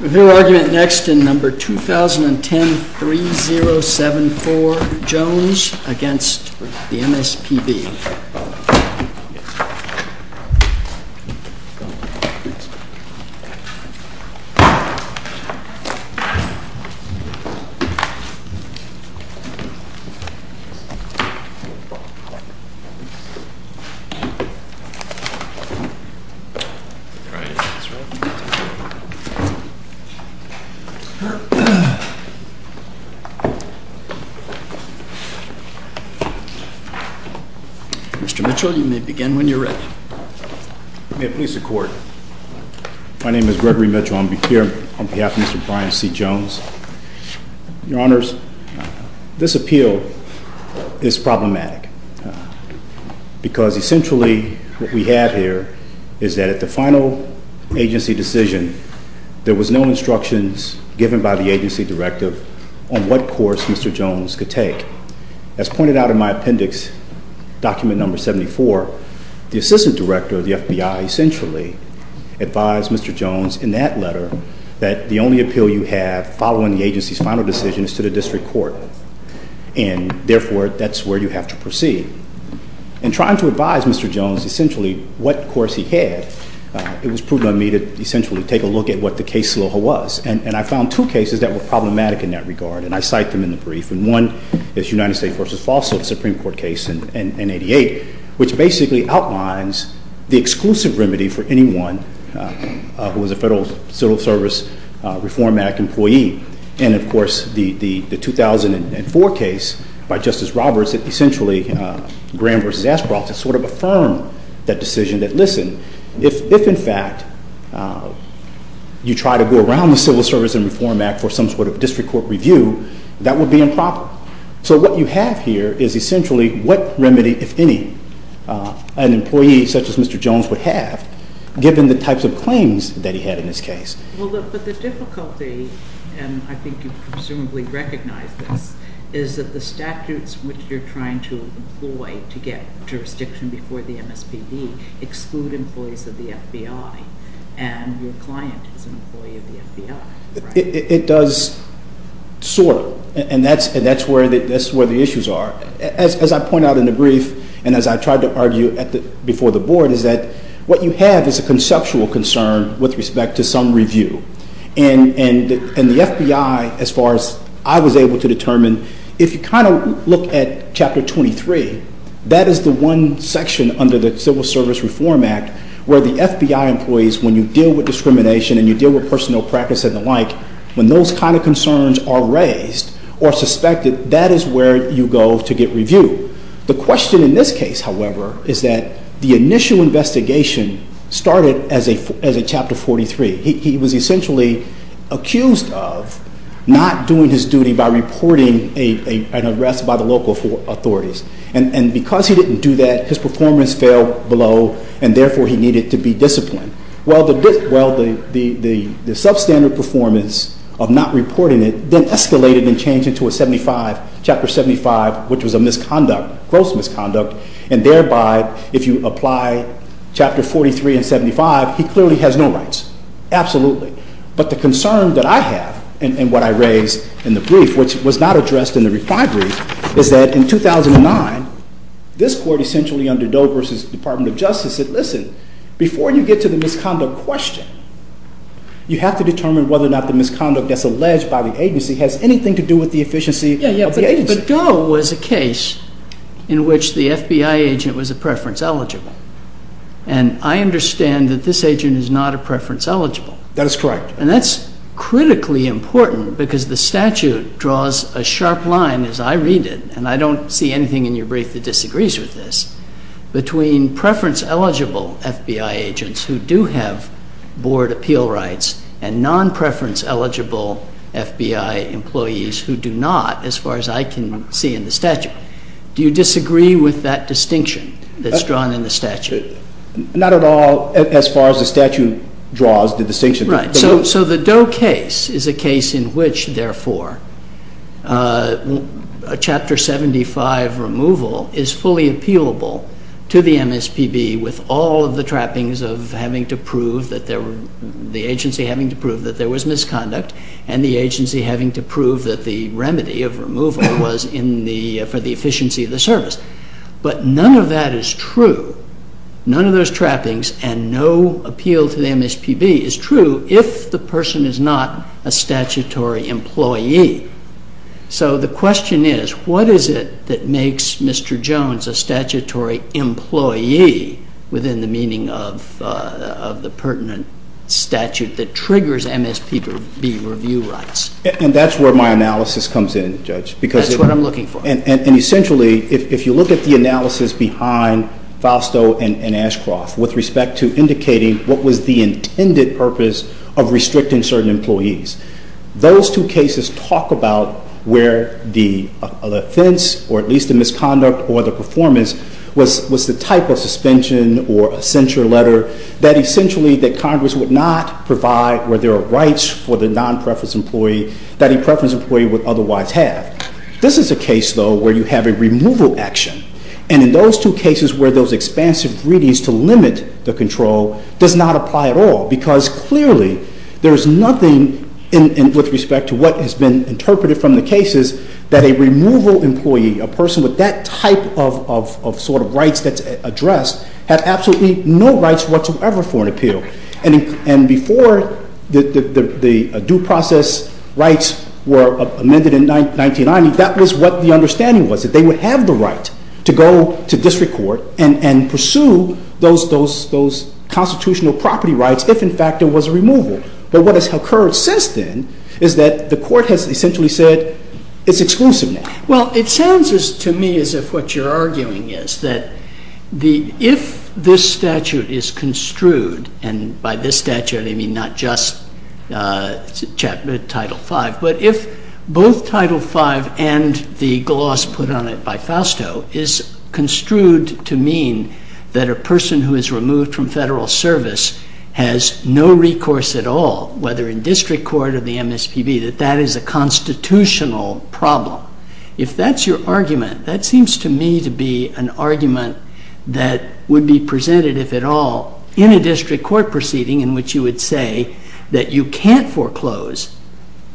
We'll hear argument next in No. 2010-3074, Jones v. MSPB. Mr. Mitchell, you may begin when you're ready. May it please the Court. My name is Gregory Mitchell. I'm here on behalf of Mr. Brian C. Jones. Your Honors, this appeal is problematic because essentially what we have here is that at the final agency decision, there was no instructions given by the agency directive on what course Mr. Jones could take. As pointed out in my appendix, document No. 74, the assistant director of the FBI essentially advised Mr. Jones in that letter that the only appeal you have following the agency's final decision is to the district court, and therefore that's where you have to proceed. In trying to advise Mr. Jones essentially what course he had, it was prudent on me to essentially take a look at what the case sloga was. And I found two cases that were problematic in that regard, and I cite them in the brief. And one is United States v. Falso, the Supreme Court case in 88, which basically outlines the exclusive remedy for anyone who is a Federal Civil Service Reform Act employee. And, of course, the 2004 case by Justice Roberts that essentially Graham v. Ashcroft to sort of affirm that decision that, listen, if in fact you try to go around the Civil Service and Reform Act for some sort of district court review, that would be improper. So what you have here is essentially what remedy, if any, an employee such as Mr. Jones would have given the types of claims that he had in his case. Well, but the difficulty, and I think you presumably recognize this, is that the statutes which you're trying to employ to get jurisdiction before the MSPB exclude employees of the FBI, and your client is an employee of the FBI, right? It does sort, and that's where the issues are. As I point out in the brief, and as I tried to argue before the Board, is that what you have is a conceptual concern with respect to some review. And the FBI, as far as I was able to determine, if you kind of look at Chapter 23, that is the one section under the Civil Service Reform Act where the FBI employees, when you deal with discrimination and you deal with personal practice and the like, when those kind of concerns are raised or suspected, that is where you go to get reviewed. The question in this case, however, is that the initial investigation started as a Chapter 43. He was essentially accused of not doing his duty by reporting an arrest by the local authorities. And because he didn't do that, his performance fell below, and therefore he needed to be disciplined. Well, the substandard performance of not reporting it then escalated and changed into a 75, Chapter 75, which was a misconduct, gross misconduct. And thereby, if you apply Chapter 43 and 75, he clearly has no rights. Absolutely. But the concern that I have, and what I raised in the brief, which was not addressed in the reply brief, is that in 2009, this Court essentially under Dover's Department of Justice said, listen, before you get to the misconduct question, you have to determine whether or not the misconduct that's alleged by the agency has anything to do with the efficiency of the agency. Yeah, yeah, but Doe was a case in which the FBI agent was a preference eligible. And I understand that this agent is not a preference eligible. That is correct. And that's critically important because the statute draws a sharp line, as I read it, and I don't see anything in your brief that disagrees with this, between preference eligible FBI agents who do have board appeal rights and non-preference eligible FBI employees who do not, as far as I can see in the statute. Do you disagree with that distinction that's drawn in the statute? Not at all, as far as the statute draws the distinction. Right, so the Doe case is a case in which, therefore, Chapter 75 removal is fully appealable to the MSPB with all of the trappings of having to prove that there were, the agency having to prove that there was misconduct and the agency having to prove that the remedy of removal was in the, for the efficiency of the service. But none of that is true, none of those trappings and no appeal to the MSPB is true if the person is not a statutory employee. So the question is, what is it that makes Mr. Jones a statutory employee within the meaning of the pertinent statute that triggers MSPB review rights? And that's where my analysis comes in, Judge. That's what I'm looking for. And essentially, if you look at the analysis behind Fausto and Ashcroft with respect to indicating what was the intended purpose of restricting certain employees, those two cases talk about where the offense or at least the misconduct or the performance was the type of suspension or censure letter that essentially that Congress would not provide where there are rights for the non-preference employee that a preference employee would otherwise have. This is a case, though, where you have a removal action. And in those two cases where those expansive greetings to limit the control does not apply at all because clearly there's nothing with respect to what has been interpreted from the cases that a removal employee, a person with that type of sort of rights that's addressed, had absolutely no rights whatsoever for an appeal. And before the due process rights were amended in 1990, that was what the understanding was, that they would have the right to go to district court and pursue those constitutional property rights if, in fact, there was a removal. But what has occurred since then is that the court has essentially said it's exclusive now. Well, it sounds to me as if what you're arguing is that if this statute is construed, and by this statute I mean not just Title V, but if both Title V and the gloss put on it by Fausto is construed to mean that a person who is removed from federal service has no recourse at all, whether in district court or the MSPB, that that is a constitutional problem. If that's your argument, that seems to me to be an argument that would be presented, if at all, in a district court proceeding in which you would say that you can't foreclose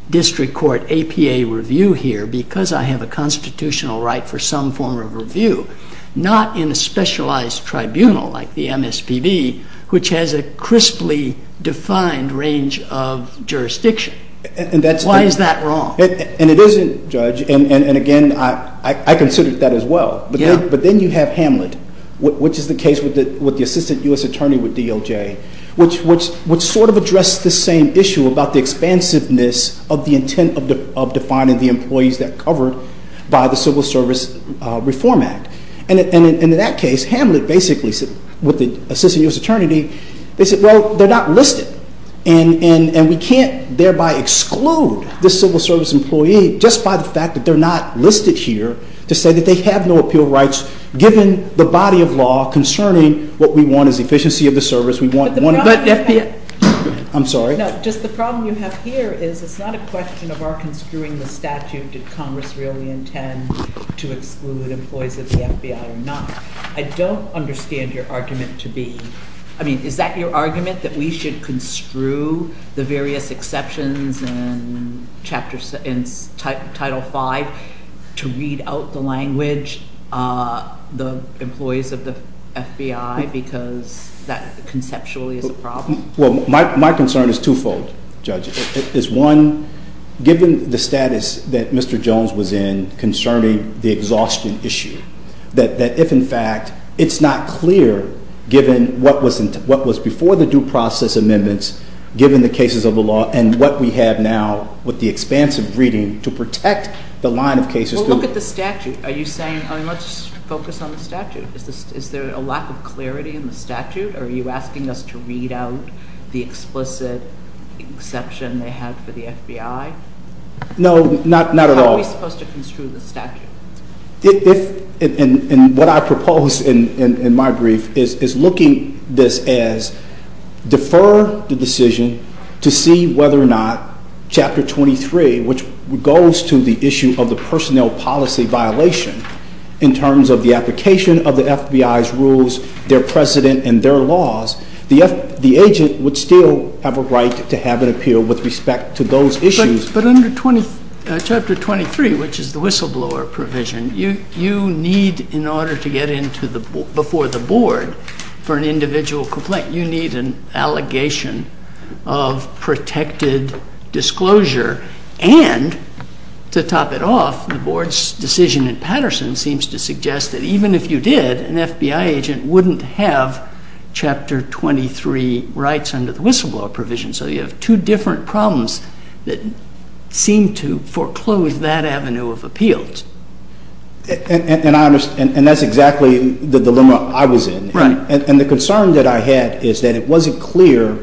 district court APA review here because I have a constitutional right for some form of review, not in a specialized tribunal like the MSPB, which has a crisply defined range of jurisdiction. Why is that wrong? And it isn't, Judge, and again, I consider that as well. But then you have Hamlet, which is the case with the Assistant U.S. Attorney with DOJ, which sort of addressed the same issue about the expansiveness of the intent of defining the employees that are covered by the Civil Service Reform Act. And in that case, Hamlet basically, with the Assistant U.S. Attorney, they said, well, they're not listed, and we can't thereby exclude this civil service employee just by the fact that they're not listed here to say that they have no appeal rights given the body of law concerning what we want is efficiency of the service. I'm sorry. No, just the problem you have here is it's not a question of our construing the statute. Did Congress really intend to exclude employees of the FBI or not? I don't understand your argument to be, I mean, is that your argument that we should construe the various exceptions in Title V to read out the language, the employees of the FBI, because that conceptually is a problem? Well, my concern is twofold, Judge. It's one, given the status that Mr. Jones was in concerning the exhaustion issue, that if in fact it's not clear given what was before the due process amendments, given the cases of the law and what we have now with the expansive reading to protect the line of cases. Well, look at the statute. Are you saying, I mean, let's focus on the statute. Is there a lack of clarity in the statute, or are you asking us to read out the explicit exception they had for the FBI? No, not at all. How are we supposed to construe the statute? And what I propose in my brief is looking at this as defer the decision to see whether or not Chapter 23, which goes to the issue of the personnel policy violation in terms of the application of the FBI's rules, their precedent, and their laws, the agent would still have a right to have an appeal with respect to those issues. But under Chapter 23, which is the whistleblower provision, you need, in order to get before the board for an individual complaint, you need an allegation of protected disclosure. And to top it off, the board's decision in Patterson seems to suggest that even if you did, an FBI agent wouldn't have Chapter 23 rights under the whistleblower provision. So you have two different problems that seem to foreclose that avenue of appeals. And that's exactly the dilemma I was in. Right. And the concern that I had is that it wasn't clear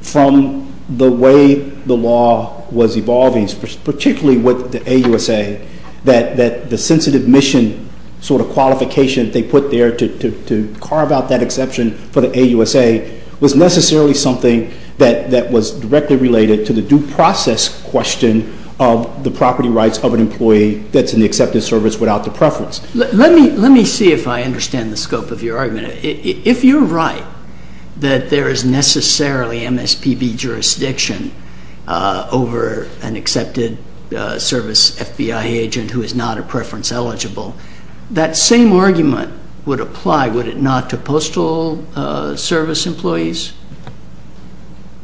from the way the law was evolving, particularly with the AUSA, that the sensitive mission sort of qualification they put there to carve out that exception for the AUSA was necessarily something that was directly related to the due process question of the property rights of an employee that's in the accepted service without the preference. Let me see if I understand the scope of your argument. If you're right that there is necessarily MSPB jurisdiction over an accepted service FBI agent who is not a preference eligible, that same argument would apply, would it not, to postal service employees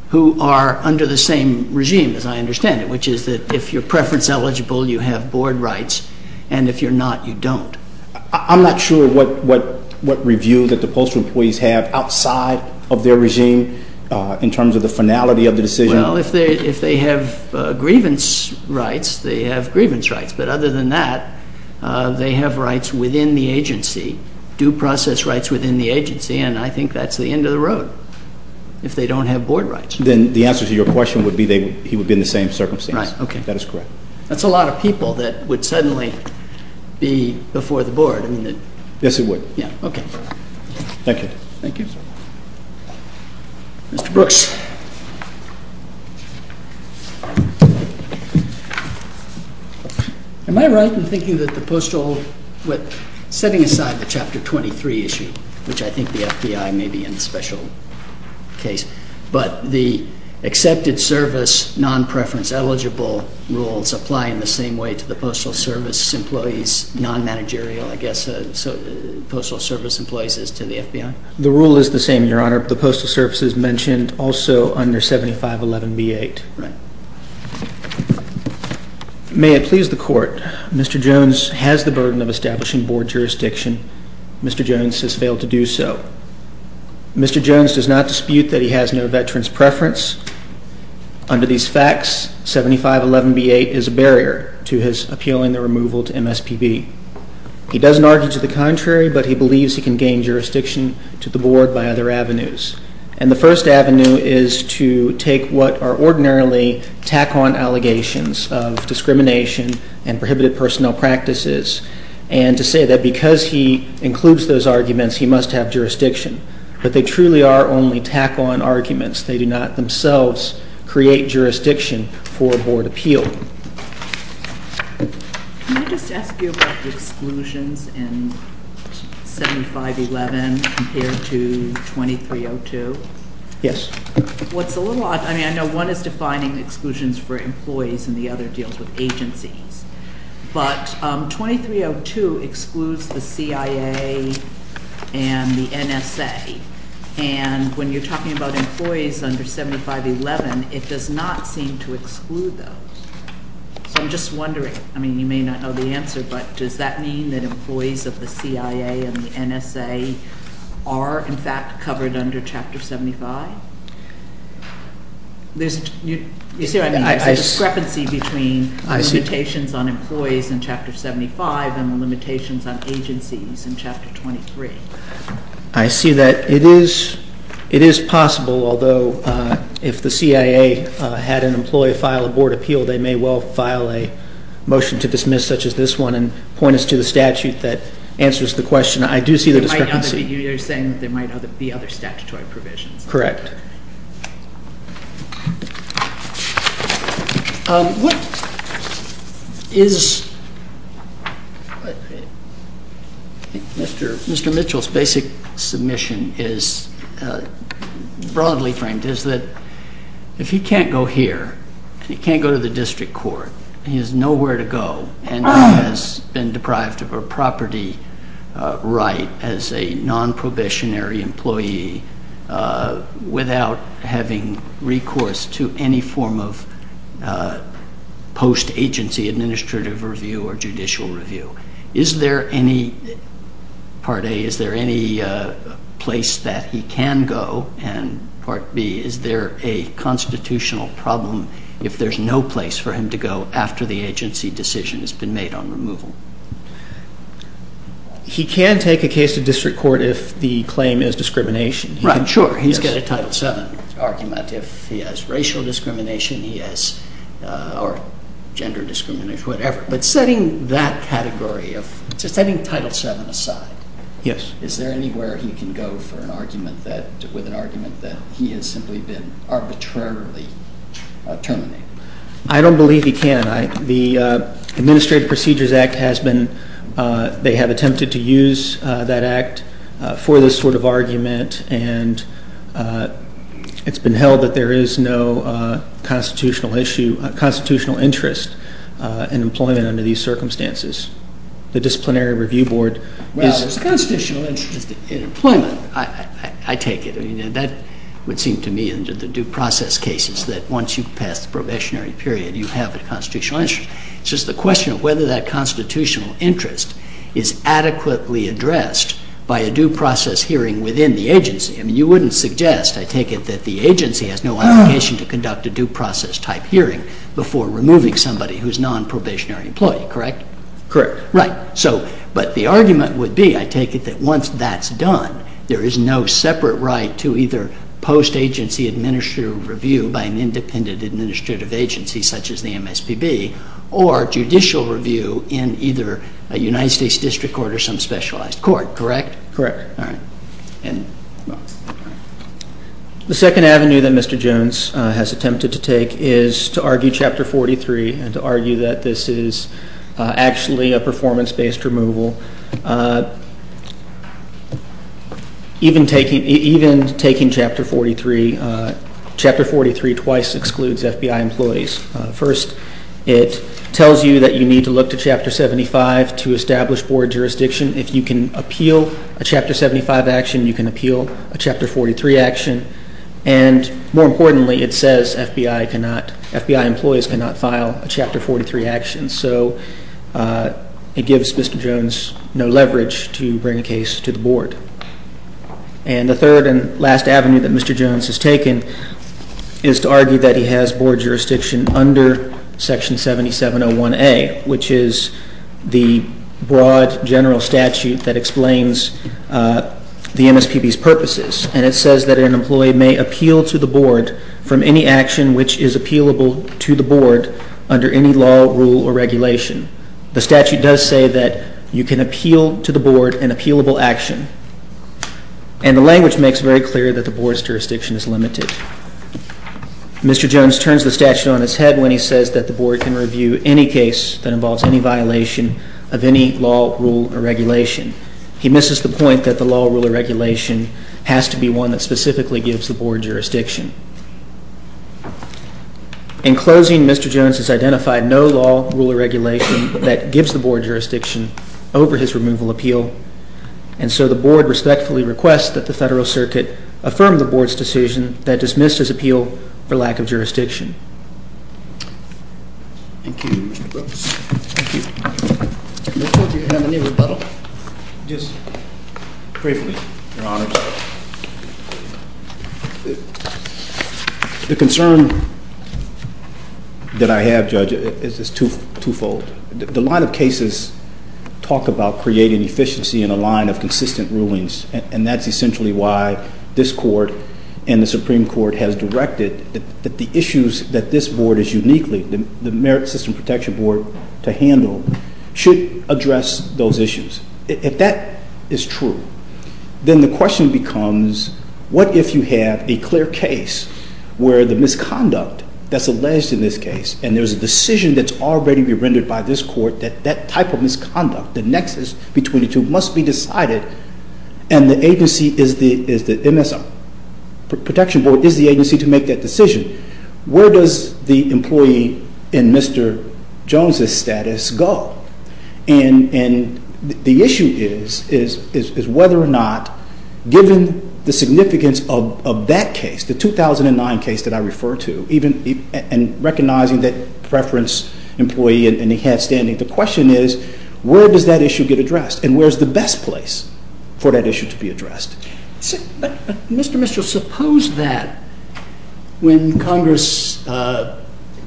who are under the same regime, as I understand it, which is that if you're preference eligible, you have board rights, and if you're not, you don't. I'm not sure what review that the postal employees have outside of their regime in terms of the finality of the decision. Well, if they have grievance rights, they have grievance rights. But other than that, they have rights within the agency, due process rights within the agency, and I think that's the end of the road if they don't have board rights. Then the answer to your question would be he would be in the same circumstance. Right, okay. That is correct. That's a lot of people that would suddenly be before the board. Yes, it would. Yeah, okay. Thank you. Thank you. Mr. Brooks. Am I right in thinking that the postal, setting aside the Chapter 23 issue, which I think the FBI may be in a special case, but the accepted service non-preference eligible rules apply in the same way to the postal service employees, non-managerial, I guess, postal service employees as to the FBI? The rule is the same, Your Honor. The postal service is mentioned also under 7511B8. Right. May it please the Court, Mr. Jones has the burden of establishing board jurisdiction. Mr. Jones has failed to do so. Mr. Jones does not dispute that he has no veteran's preference. Under these facts, 7511B8 is a barrier to his appealing the removal to MSPB. He doesn't argue to the contrary, but he believes he can gain jurisdiction to the board by other avenues. And the first avenue is to take what are ordinarily tack-on allegations of discrimination and prohibited personnel practices and to say that because he includes those arguments, he must have jurisdiction. But they truly are only tack-on arguments. They do not themselves create jurisdiction for board appeal. Thank you. Can I just ask you about the exclusions in 7511 compared to 2302? Yes. What's a little odd, I mean, I know one is defining exclusions for employees and the other deals with agencies. But 2302 excludes the CIA and the NSA. And when you're talking about employees under 7511, it does not seem to exclude those. So I'm just wondering. I mean, you may not know the answer, but does that mean that employees of the CIA and the NSA are, in fact, covered under Chapter 75? You see what I mean? There's a discrepancy between the limitations on employees in Chapter 75 and the limitations on agencies in Chapter 23. I see that it is possible, although if the CIA had an employee file a board appeal, they may well file a motion to dismiss such as this one and point us to the statute that answers the question. I do see the discrepancy. You're saying there might be other statutory provisions. Correct. What is Mr. Mitchell's basic submission is broadly framed is that if he can't go here and he can't go to the district court, he has nowhere to go and has been deprived of a property right as a non-probationary employee without having recourse to any form of post-agency administrative review or judicial review. Is there any, part A, is there any place that he can go? And part B, is there a constitutional problem if there's no place for him to go after the agency decision has been made on removal? He can take a case to district court if the claim is discrimination. Right, sure. He's got a Title VII argument. If he has racial discrimination or gender discrimination, whatever. But setting that category, setting Title VII aside, is there anywhere he can go with an argument that he has simply been arbitrarily terminated? I don't believe he can. The Administrative Procedures Act has been, they have attempted to use that act for this sort of argument, and it's been held that there is no constitutional issue, constitutional interest in employment under these circumstances. The Disciplinary Review Board is- Well, there's a constitutional interest in employment. I take it. I mean, that would seem to me in the due process cases that once you pass the probationary period, you have a constitutional interest. It's just the question of whether that constitutional interest is adequately addressed by a due process hearing within the agency. I mean, you wouldn't suggest, I take it, that the agency has no obligation to conduct a due process type hearing before removing somebody who's a nonprobationary employee, correct? Correct. Right. So, but the argument would be, I take it, that once that's done, there is no separate right to either post-agency administrative review by an independent administrative agency, such as the MSPB, or judicial review in either a United States district court or some specialized court, correct? Correct. All right. The second avenue that Mr. Jones has attempted to take is to argue Chapter 43 and to argue that this is actually a performance-based removal. Even taking Chapter 43, Chapter 43 twice excludes FBI employees. First, it tells you that you need to look to Chapter 75 to establish board jurisdiction. If you can appeal a Chapter 75 action, you can appeal a Chapter 43 action. And more importantly, it says FBI employees cannot file a Chapter 43 action. So it gives Mr. Jones no leverage to bring a case to the board. And the third and last avenue that Mr. Jones has taken is to argue that he has board jurisdiction under Section 7701A, which is the broad general statute that explains the MSPB's purposes. And it says that an employee may appeal to the board from any action which is appealable to the board under any law, rule, or regulation. The statute does say that you can appeal to the board an appealable action. And the language makes very clear that the board's jurisdiction is limited. Mr. Jones turns the statute on its head when he says that the board can review any case that involves any violation of any law, rule, or regulation. He misses the point that the law, rule, or regulation has to be one that specifically gives the board jurisdiction. In closing, Mr. Jones has identified no law, rule, or regulation that gives the board jurisdiction over his removal appeal. And so the board respectfully requests that the Federal Circuit affirm the board's decision that dismissed his appeal for lack of jurisdiction. Thank you, Mr. Brooks. Thank you. I don't think you have any rebuttal. Just briefly, Your Honors. The concern that I have, Judge, is twofold. The line of cases talk about creating efficiency in a line of consistent rulings, and that's essentially why this Court and the Supreme Court has directed that the issues that this board is uniquely, the Merit System Protection Board, to handle should address those issues. If that is true, then the question becomes what if you have a clear case where the misconduct that's alleged in this case, and there's a decision that's already been rendered by this Court that that type of misconduct, the nexus between the two, must be decided, and the agency is the MSM Protection Board, is the agency to make that decision, where does the employee in Mr. Jones' status go? And the issue is whether or not, given the significance of that case, the 2009 case that I refer to, and recognizing that preference employee and he had standing, the question is where does that issue get addressed, and where is the best place for that issue to be addressed? Mr. Mitchell, suppose that when Congress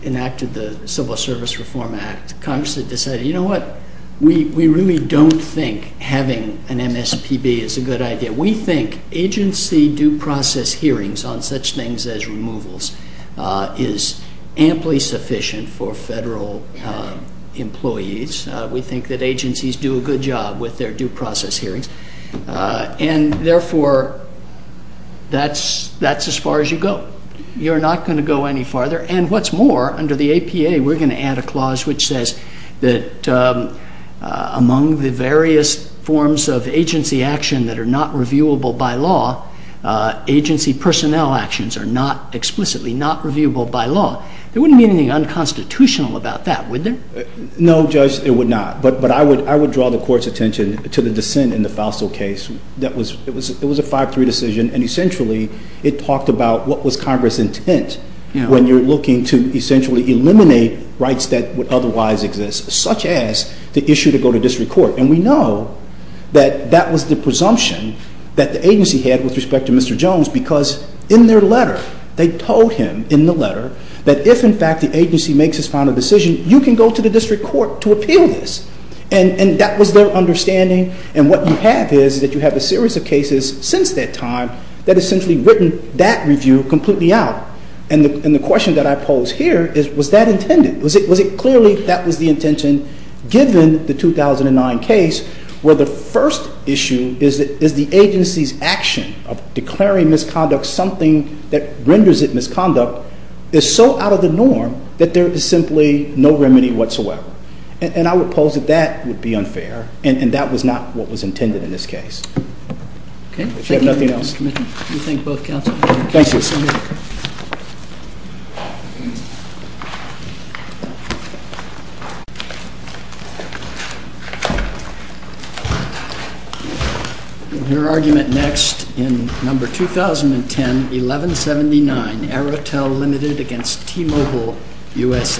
enacted the Civil Service Reform Act, Congress had decided, you know what, we really don't think having an MSPB is a good idea. We think agency due process hearings on such things as removals is amply sufficient for federal employees. We think that agencies do a good job with their due process hearings, and therefore, that's as far as you go. You're not going to go any farther, and what's more, under the APA, we're going to add a clause which says that among the various forms of agency action that are not reviewable by law, agency personnel actions are not explicitly not reviewable by law. There wouldn't be anything unconstitutional about that, would there? No, Judge, it would not, but I would draw the Court's attention to the dissent in the Fauso case. It was a 5-3 decision, and essentially, it talked about what was Congress's intent when you're looking to essentially eliminate rights that would otherwise exist, such as the issue to go to district court. And we know that that was the presumption that the agency had with respect to Mr. Jones, because in their letter, they told him in the letter that if, in fact, the agency makes its final decision, you can go to the district court to appeal this. And that was their understanding, and what you have is that you have a series of cases since that time that essentially written that review completely out. And the question that I pose here is, was that intended? Was it clearly that was the intention given the 2009 case where the first issue is the agency's action of declaring misconduct something that renders it misconduct is so out of the norm that there is simply no remedy whatsoever? And I would pose that that would be unfair, and that was not what was intended in this case. Okay. Thank you. Your argument next in number 2010-1179, Aratel Ltd. against T-Mobile USA. Mr. Flaherty. That's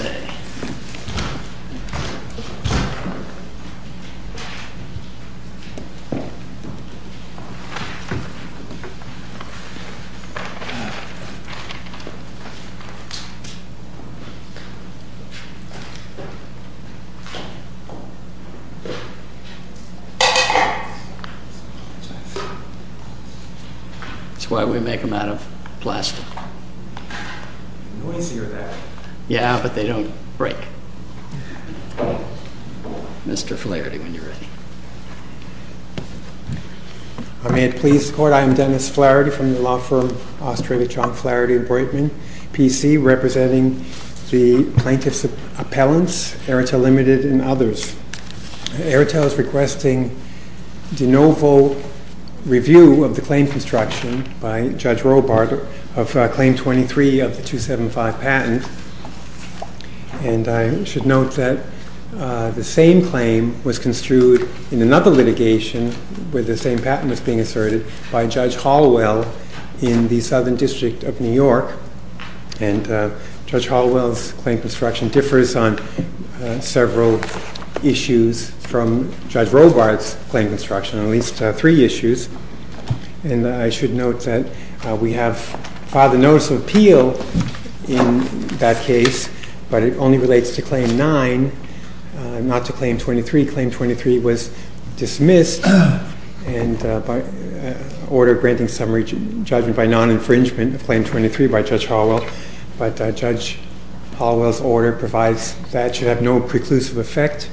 why we make them out of plastic. Noisier, that. Yeah, but they don't break. Mr. Flaherty, when you're ready. May it please the court, I am Dennis Flaherty from the law firm Australia Chalk Flaherty and Breitman PC, representing the plaintiffs' appellants, Aratel Ltd. and others. Aratel is requesting de novo review of the claim construction by Judge Robart of Claim 23 of the 275 patent. And I should note that the same claim was construed in another litigation where the same patent was being asserted by Judge Halliwell in the Southern District of New York, and Judge Halliwell's claim construction differs on several issues from Judge Robart's claim construction, at least three issues. And I should note that we have filed a notice of appeal in that case, but it only relates to Claim 9, not to Claim 23. Claim 23 was dismissed and ordered granting summary judgment by non-infringement of Claim 23 by Judge Halliwell, but Judge Halliwell's order provides that should have no preclusive effect,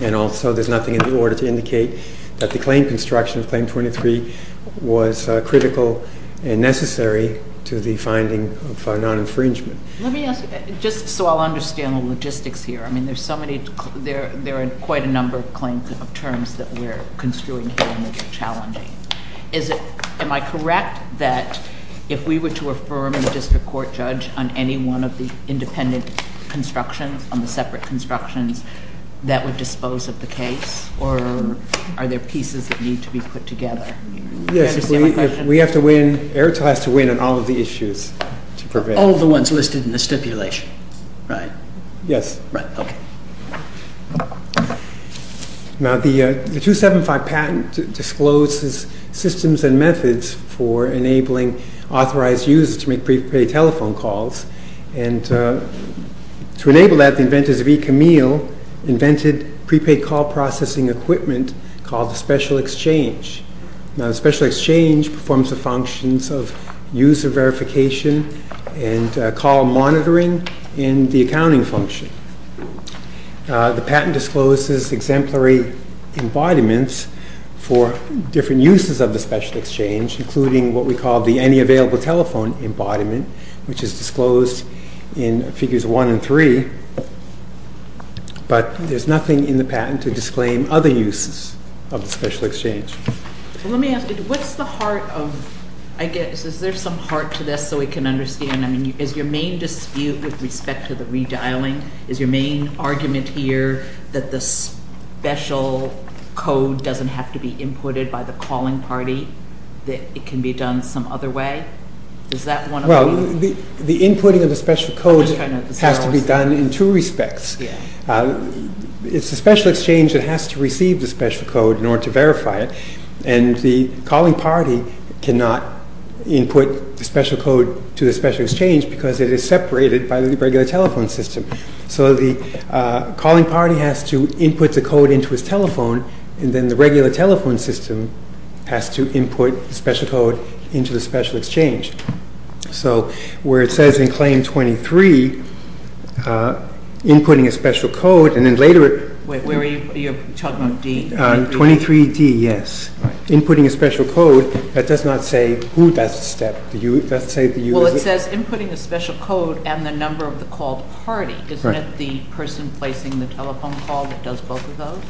and also there's nothing in the order to indicate that the claim construction of Claim 23 was critical and necessary to the finding of non-infringement. Let me ask, just so I'll understand the logistics here, I mean there's so many, there are quite a number of claims of terms that we're construing here and we're challenging. Is it, am I correct that if we were to affirm a district court judge on any one of the independent constructions, on the separate constructions, that would dispose of the case, or are there pieces that need to be put together? Yes, we have to weigh in, Airtel has to weigh in on all of the issues. All of the ones listed in the stipulation, right? Yes. Right, okay. Now the 275 patent discloses systems and methods for enabling authorized users to make prepaid telephone calls, and to enable that, the inventors of eCamille invented prepaid call processing equipment called the Special Exchange. Now the Special Exchange performs the functions of user verification and call monitoring and the accounting function. The patent discloses exemplary embodiments for different uses of the Special Exchange, including what we call the Any Available Telephone embodiment, which is disclosed in Figures 1 and 3, but there's nothing in the patent to disclaim other uses of the Special Exchange. Let me ask you, what's the heart of, I guess, is there some heart to this so we can understand, I mean is your main dispute with respect to the redialing, is your main argument here that the special code doesn't have to be inputted by the calling party? That it can be done some other way? Well, the inputting of the special code has to be done in two respects. It's the Special Exchange that has to receive the special code in order to verify it, and the calling party cannot input the special code to the Special Exchange because it is separated by the regular telephone system. So the calling party has to input the code into his telephone, and then the regular telephone system has to input the special code into the Special Exchange. So where it says in Claim 23, inputting a special code, and then later it... Wait, where are you talking about, D? 23D, yes. Inputting a special code, that does not say who does the step. Well, it says inputting a special code and the number of the call party. Isn't it the person placing the telephone call that does both of those?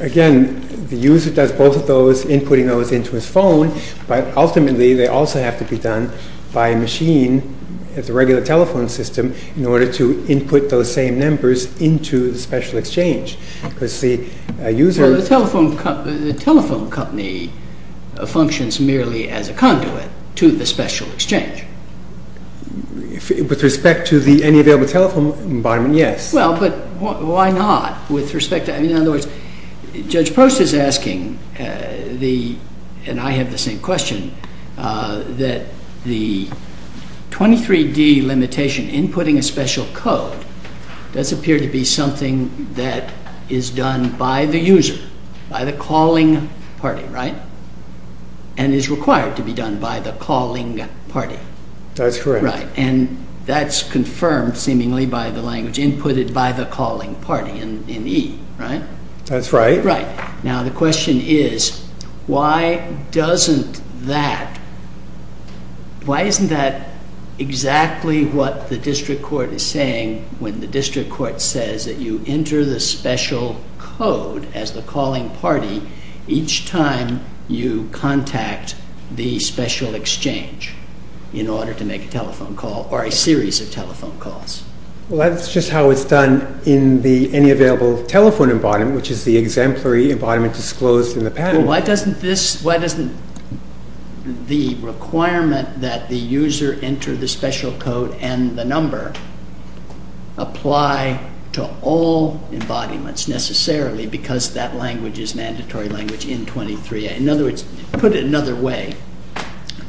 Again, the user does both of those, inputting those into his phone, but ultimately they also have to be done by a machine at the regular telephone system in order to input those same numbers into the Special Exchange. The telephone company functions merely as a conduit to the Special Exchange. With respect to any available telephone environment, yes. Well, but why not? In other words, Judge Prost is asking, and I have the same question, that the 23D limitation, inputting a special code, does appear to be something that is done by the user, by the calling party, right? And is required to be done by the calling party. That's correct. Right, and that's confirmed, seemingly, by the language, inputted by the calling party in E, right? That's right. Now, the question is, why doesn't that, why isn't that exactly what the District Court is saying when the District Court says that you enter the special code as the calling party each time you contact the Special Exchange in order to make a telephone call or a series of telephone calls? Well, that's just how it's done in the Any Available Telephone environment, which is the exemplary embodiment disclosed in the patent. Well, why doesn't this, why doesn't the requirement that the user enter the special code and the number apply to all embodiments, necessarily, because that language is mandatory language in 23A? In other words, put it another way,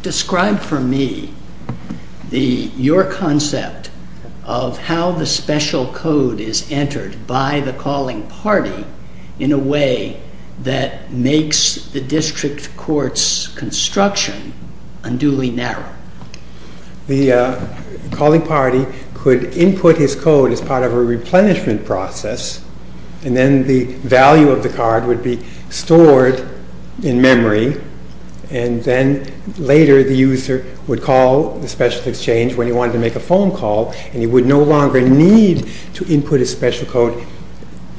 describe for me your concept of how the special code is entered by the calling party in a way that makes the District Court's construction unduly narrow. The calling party could input his code as part of a replenishment process and then the value of the card would be stored in memory and then later the user would call the Special Exchange when he wanted to make a phone call and he would no longer need to input his special code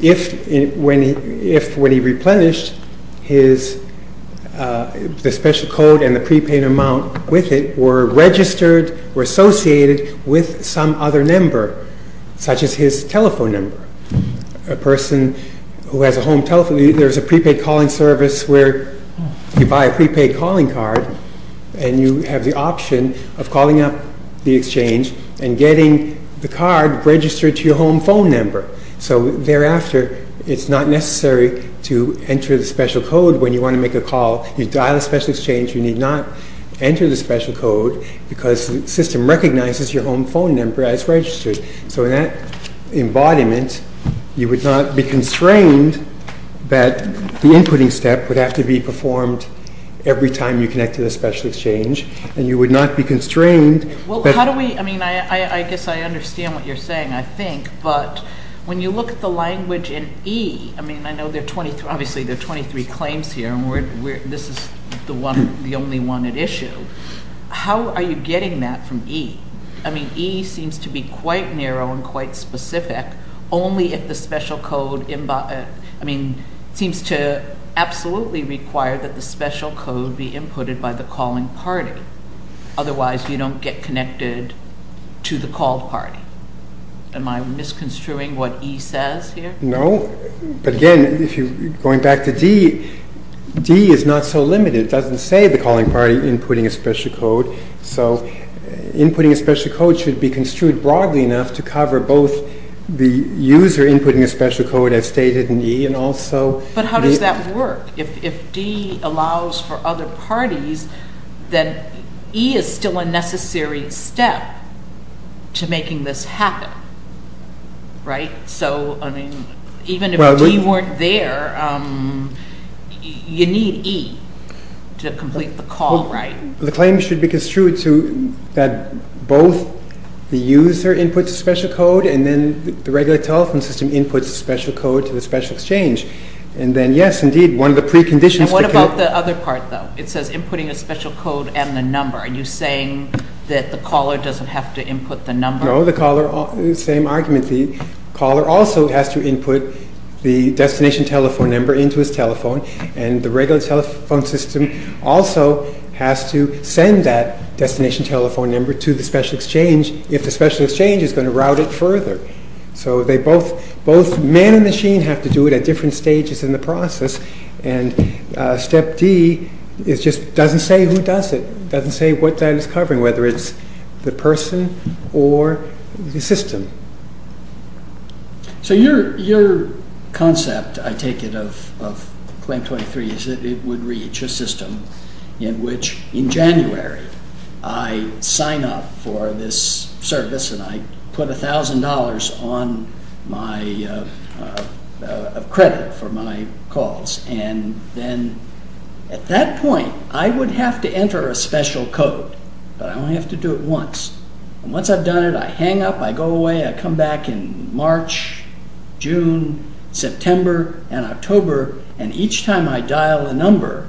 if when he replenished the special code and the prepaid amount with it were registered or associated with some other number, such as his telephone number. A person who has a home telephone, there's a prepaid calling service where you buy a prepaid calling card and you have the option of calling up the Exchange and getting the card registered to your home phone number. So thereafter, it's not necessary to enter the special code when you want to make a call. You dial the Special Exchange, you need not enter the special code because the system recognizes your home phone number as registered. So in that embodiment, you would not be constrained that the inputting step would have to be performed every time you connect to the Special Exchange and you would not be constrained. I guess I understand what you're saying, I think, but when you look at the language in E, I mean, I know there are 23 claims here and this is the only one at issue. How are you getting that from E? I mean, E seems to be quite narrow and quite specific only if the special code seems to absolutely require that the special code be inputted by the calling party. Otherwise, you don't get connected to the called party. Am I misconstruing what E says here? No, but again, going back to D, D is not so limited. It doesn't say the calling party inputting a special code, so inputting a special code should be construed broadly enough to cover both the user inputting a special code as stated in E and also... But how does that work? If D allows for other parties, then E is still a necessary step to making this happen, right? So, I mean, even if D weren't there, you need E to complete the call, right? The claim should be construed so that both the user inputs a special code and then the regular telephone system inputs a special code to the special exchange. And then, yes, indeed, one of the preconditions... And what about the other part, though? It says inputting a special code and the number. Are you saying that the caller doesn't have to input the number? No, the caller... same argument. The caller also has to input the destination telephone number into his telephone, and the regular telephone system also has to send that destination telephone number to the special exchange if the special exchange is going to route it further. So both man and machine have to do it at different stages in the process, and step D just doesn't say who does it, doesn't say what that is covering, whether it's the person or the system. So your concept, I take it, of Claim 23 is that it would reach a system in which, in January, I sign up for this service and I put $1,000 of credit for my calls. And then, at that point, I would have to enter a special code, but I only have to do it once. And once I've done it, I hang up, I go away, I come back in March, June, September, and October, and each time I dial a number,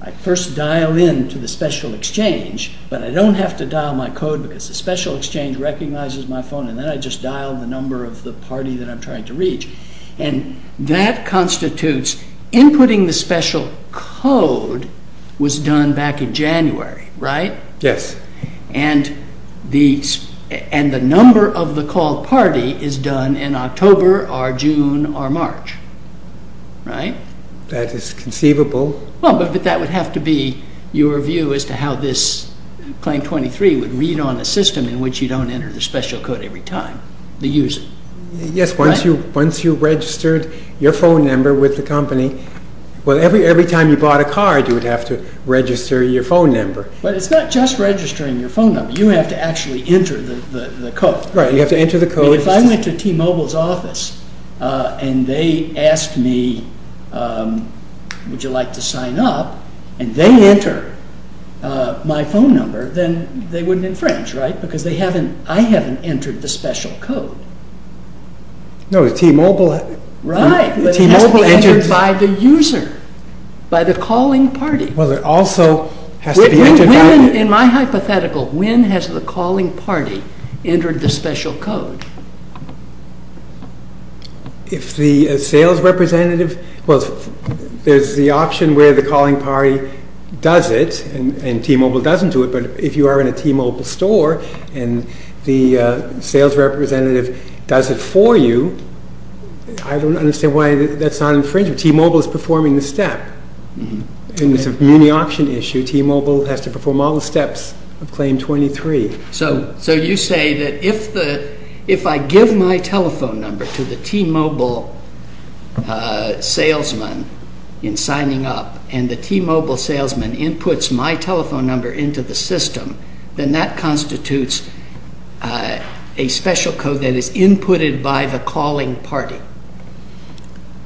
I first dial in to the special exchange, but I don't have to dial my code because the special exchange recognizes my phone, and then I just dial the number of the party that I'm trying to reach. And that constitutes, inputting the special code was done back in January, right? Yes. And the number of the call party is done in October or June or March, right? That is conceivable. Well, but that would have to be your view as to how this, Claim 23, would read on a system in which you don't enter the special code every time, the user. Yes, once you registered your phone number with the company, well, every time you bought a card, you would have to register your phone number. But it's not just registering your phone number. You have to actually enter the code. Right, you have to enter the code. If I went to T-Mobile's office and they asked me, would you like to sign up, and they enter my phone number, then they wouldn't infringe, right? Because I haven't entered the special code. No, T-Mobile has. Right, but it has to be entered by the user, by the calling party. Well, it also has to be entered by the… In my hypothetical, when has the calling party entered the special code? If the sales representative, well, there's the option where the calling party does it and T-Mobile doesn't do it, but if you are in a T-Mobile store and the sales representative does it for you, I don't understand why that's not infringing. T-Mobile is performing the step. In the option issue, T-Mobile has to perform all the steps of Claim 23. So you say that if I give my telephone number to the T-Mobile salesman in signing up and the T-Mobile salesman inputs my telephone number into the system, then that constitutes a special code that is inputted by the calling party,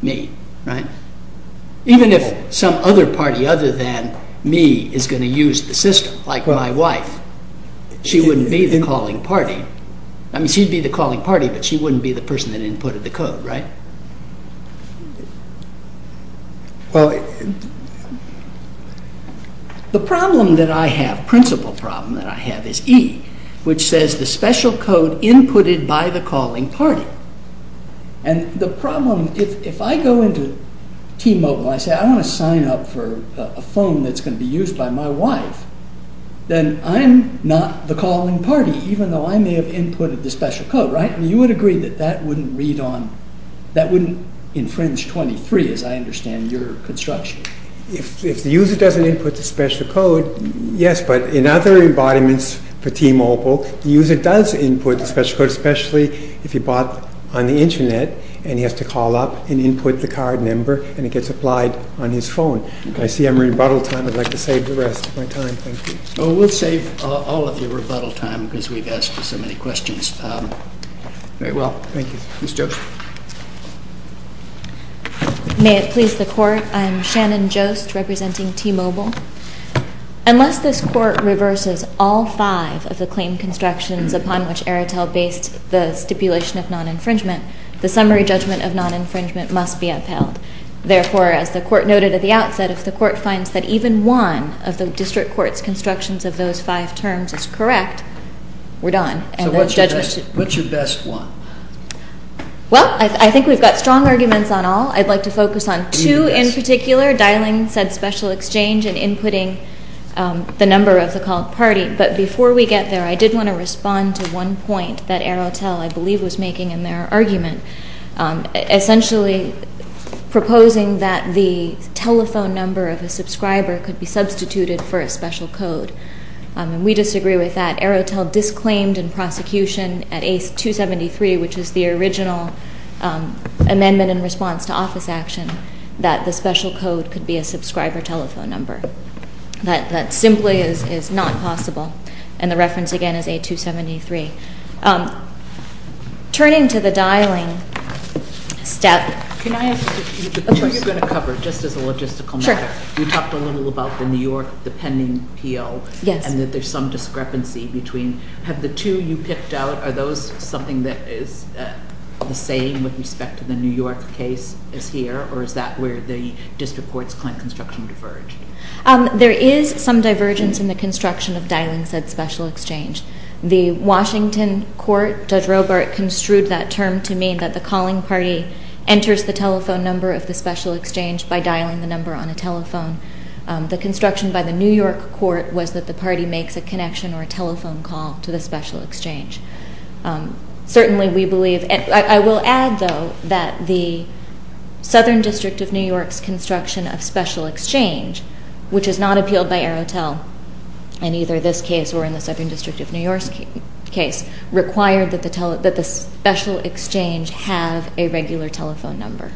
me, right? Even if some other party other than me is going to use the system, like my wife, she wouldn't be the calling party. I mean, she'd be the calling party, but she wouldn't be the person that inputted the code, right? Well, the problem that I have, principal problem that I have is E, which says the special code inputted by the calling party. And the problem, if I go into T-Mobile and I say, I want to sign up for a phone that's going to be used by my wife, then I'm not the calling party, even though I may have inputted the special code, right? You would agree that that wouldn't read on, that wouldn't infringe 23, as I understand your construction. If the user doesn't input the special code, yes, but in other embodiments for T-Mobile, the user does input the special code, especially if he bought on the Internet and he has to call up and input the card number and it gets applied on his phone. I see I'm at rebuttal time. I'd like to save the rest of my time. Thank you. Oh, we'll save all of your rebuttal time because we've asked so many questions. Very well. Thank you. Ms. Jost. May it please the Court. I'm Shannon Jost, representing T-Mobile. Unless this Court reverses all five of the claim constructions upon which Aretel based the stipulation of non-infringement, the summary judgment of non-infringement must be upheld. Therefore, as the Court noted at the outset, if the Court finds that even one of the District Court's constructions of those five terms is correct, we're done. So what's your best one? Well, I think we've got strong arguments on all. I'd like to focus on two in particular, dialing said special exchange and inputting the number of the called party. But before we get there, I did want to respond to one point that Aretel, I believe, was making in their argument, essentially proposing that the telephone number of a subscriber could be substituted for a special code. And we disagree with that. Aretel disclaimed in prosecution at ACE 273, which is the original amendment in response to office action, that the special code could be a subscriber telephone number. That simply is not possible. And the reference again is A273. Turning to the dialing step... Can I ask you the two you're going to cover, just as a logistical matter? Sure. You talked a little about the New York, the pending appeal. Yes. And that there's some discrepancy between... Have the two you picked out, are those something that is the same with respect to the New York case as here? Or is that where the district court's client construction diverged? There is some divergence in the construction of dialing said special exchange. The Washington court, Judge Robart construed that term to mean that the calling party enters the telephone number of the special exchange by dialing the number on a telephone. The construction by the New York court was that the party makes a connection or a telephone call to the special exchange. Certainly, we believe... I will add, though, that the Southern District of New York's construction of special exchange, which is not appealed by Aretel in either this case or in the Southern District of New York's case, required that the special exchange have a regular telephone number.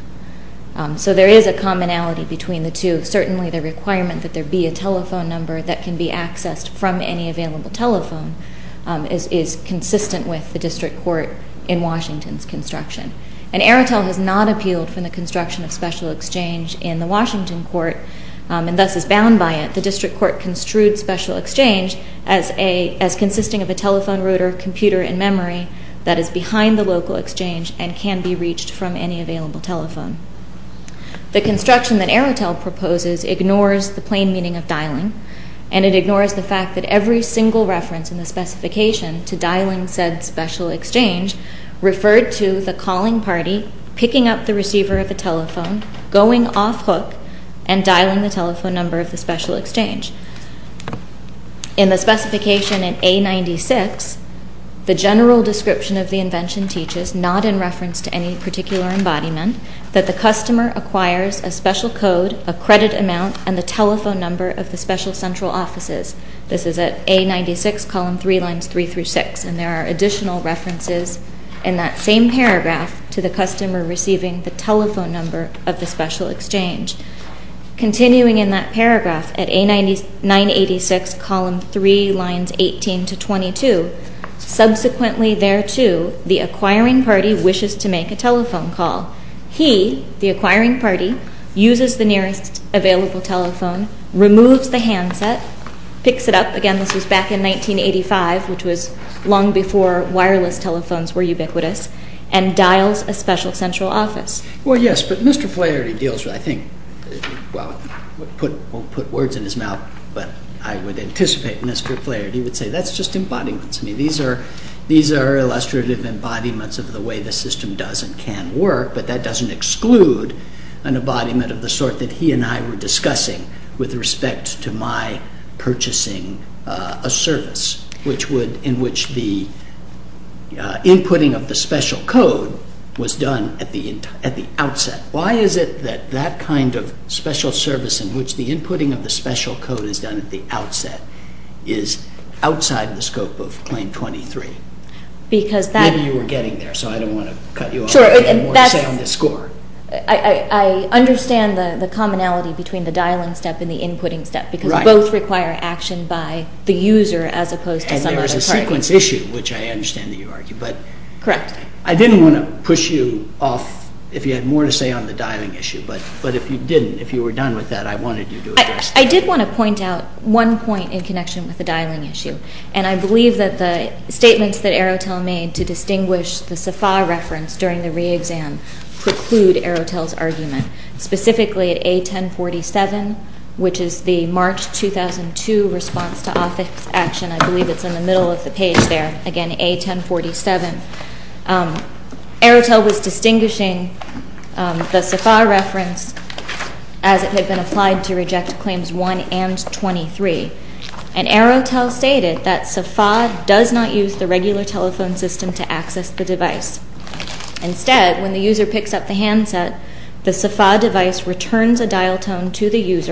So there is a commonality between the two. Certainly, the requirement that there be a telephone number that can be accessed from any available telephone is consistent with the district court in Washington's construction. And Aretel has not appealed from the construction of special exchange in the Washington court and thus is bound by it. The district court construed special exchange as consisting of a telephone router, computer, and memory that is behind the local exchange and can be reached from any available telephone. The construction that Aretel proposes ignores the plain meaning of dialing, and it ignores the fact that every single reference in the specification to dialing said special exchange referred to the calling party picking up the receiver of the telephone, going off hook, and dialing the telephone number of the special exchange. In the specification in A96, the general description of the invention teaches, not in reference to any particular embodiment, that the customer acquires a special code, a credit amount, and the telephone number of the special central offices. This is at A96, column 3, lines 3 through 6, and there are additional references in that same paragraph to the customer receiving the telephone number of the special exchange. Continuing in that paragraph, at A986, column 3, lines 18 to 22, subsequently thereto, the acquiring party wishes to make a telephone call. He, the acquiring party, uses the nearest available telephone, removes the handset, picks it up, again this was back in 1985, which was long before wireless telephones were ubiquitous, and dials a special central office. Well, yes, but Mr. Flaherty deals with, I think, well, I won't put words in his mouth, but I would anticipate Mr. Flaherty would say that's just embodiments. I mean, these are illustrative embodiments of the way the system does and can work, but that doesn't exclude an embodiment of the sort that he and I were discussing with respect to my purchasing a service, in which the inputting of the special code was done at the outset. Why is it that that kind of special service in which the inputting of the special code is done at the outset is outside the scope of Claim 23? Maybe you were getting there, so I don't want to cut you off. I have more to say on this score. I understand the commonality between the dialing step and the inputting step, because both require action by the user as opposed to some other target. And there is a sequence issue, which I understand that you argue. Correct. I didn't want to push you off if you had more to say on the dialing issue, but if you didn't, if you were done with that, I wanted you to address that. I did want to point out one point in connection with the dialing issue, and I believe that the statements that Arotel made to distinguish the SAFA reference during the re-exam preclude Arotel's argument, specifically at A1047, which is the March 2002 response to office action. I believe it's in the middle of the page there, again, A1047. Arotel was distinguishing the SAFA reference as it had been applied to reject Claims 1 and 23, and Arotel stated that SAFA does not use the regular telephone system to access the device. Instead, when the user picks up the handset, the SAFA device returns a dial tone to the user.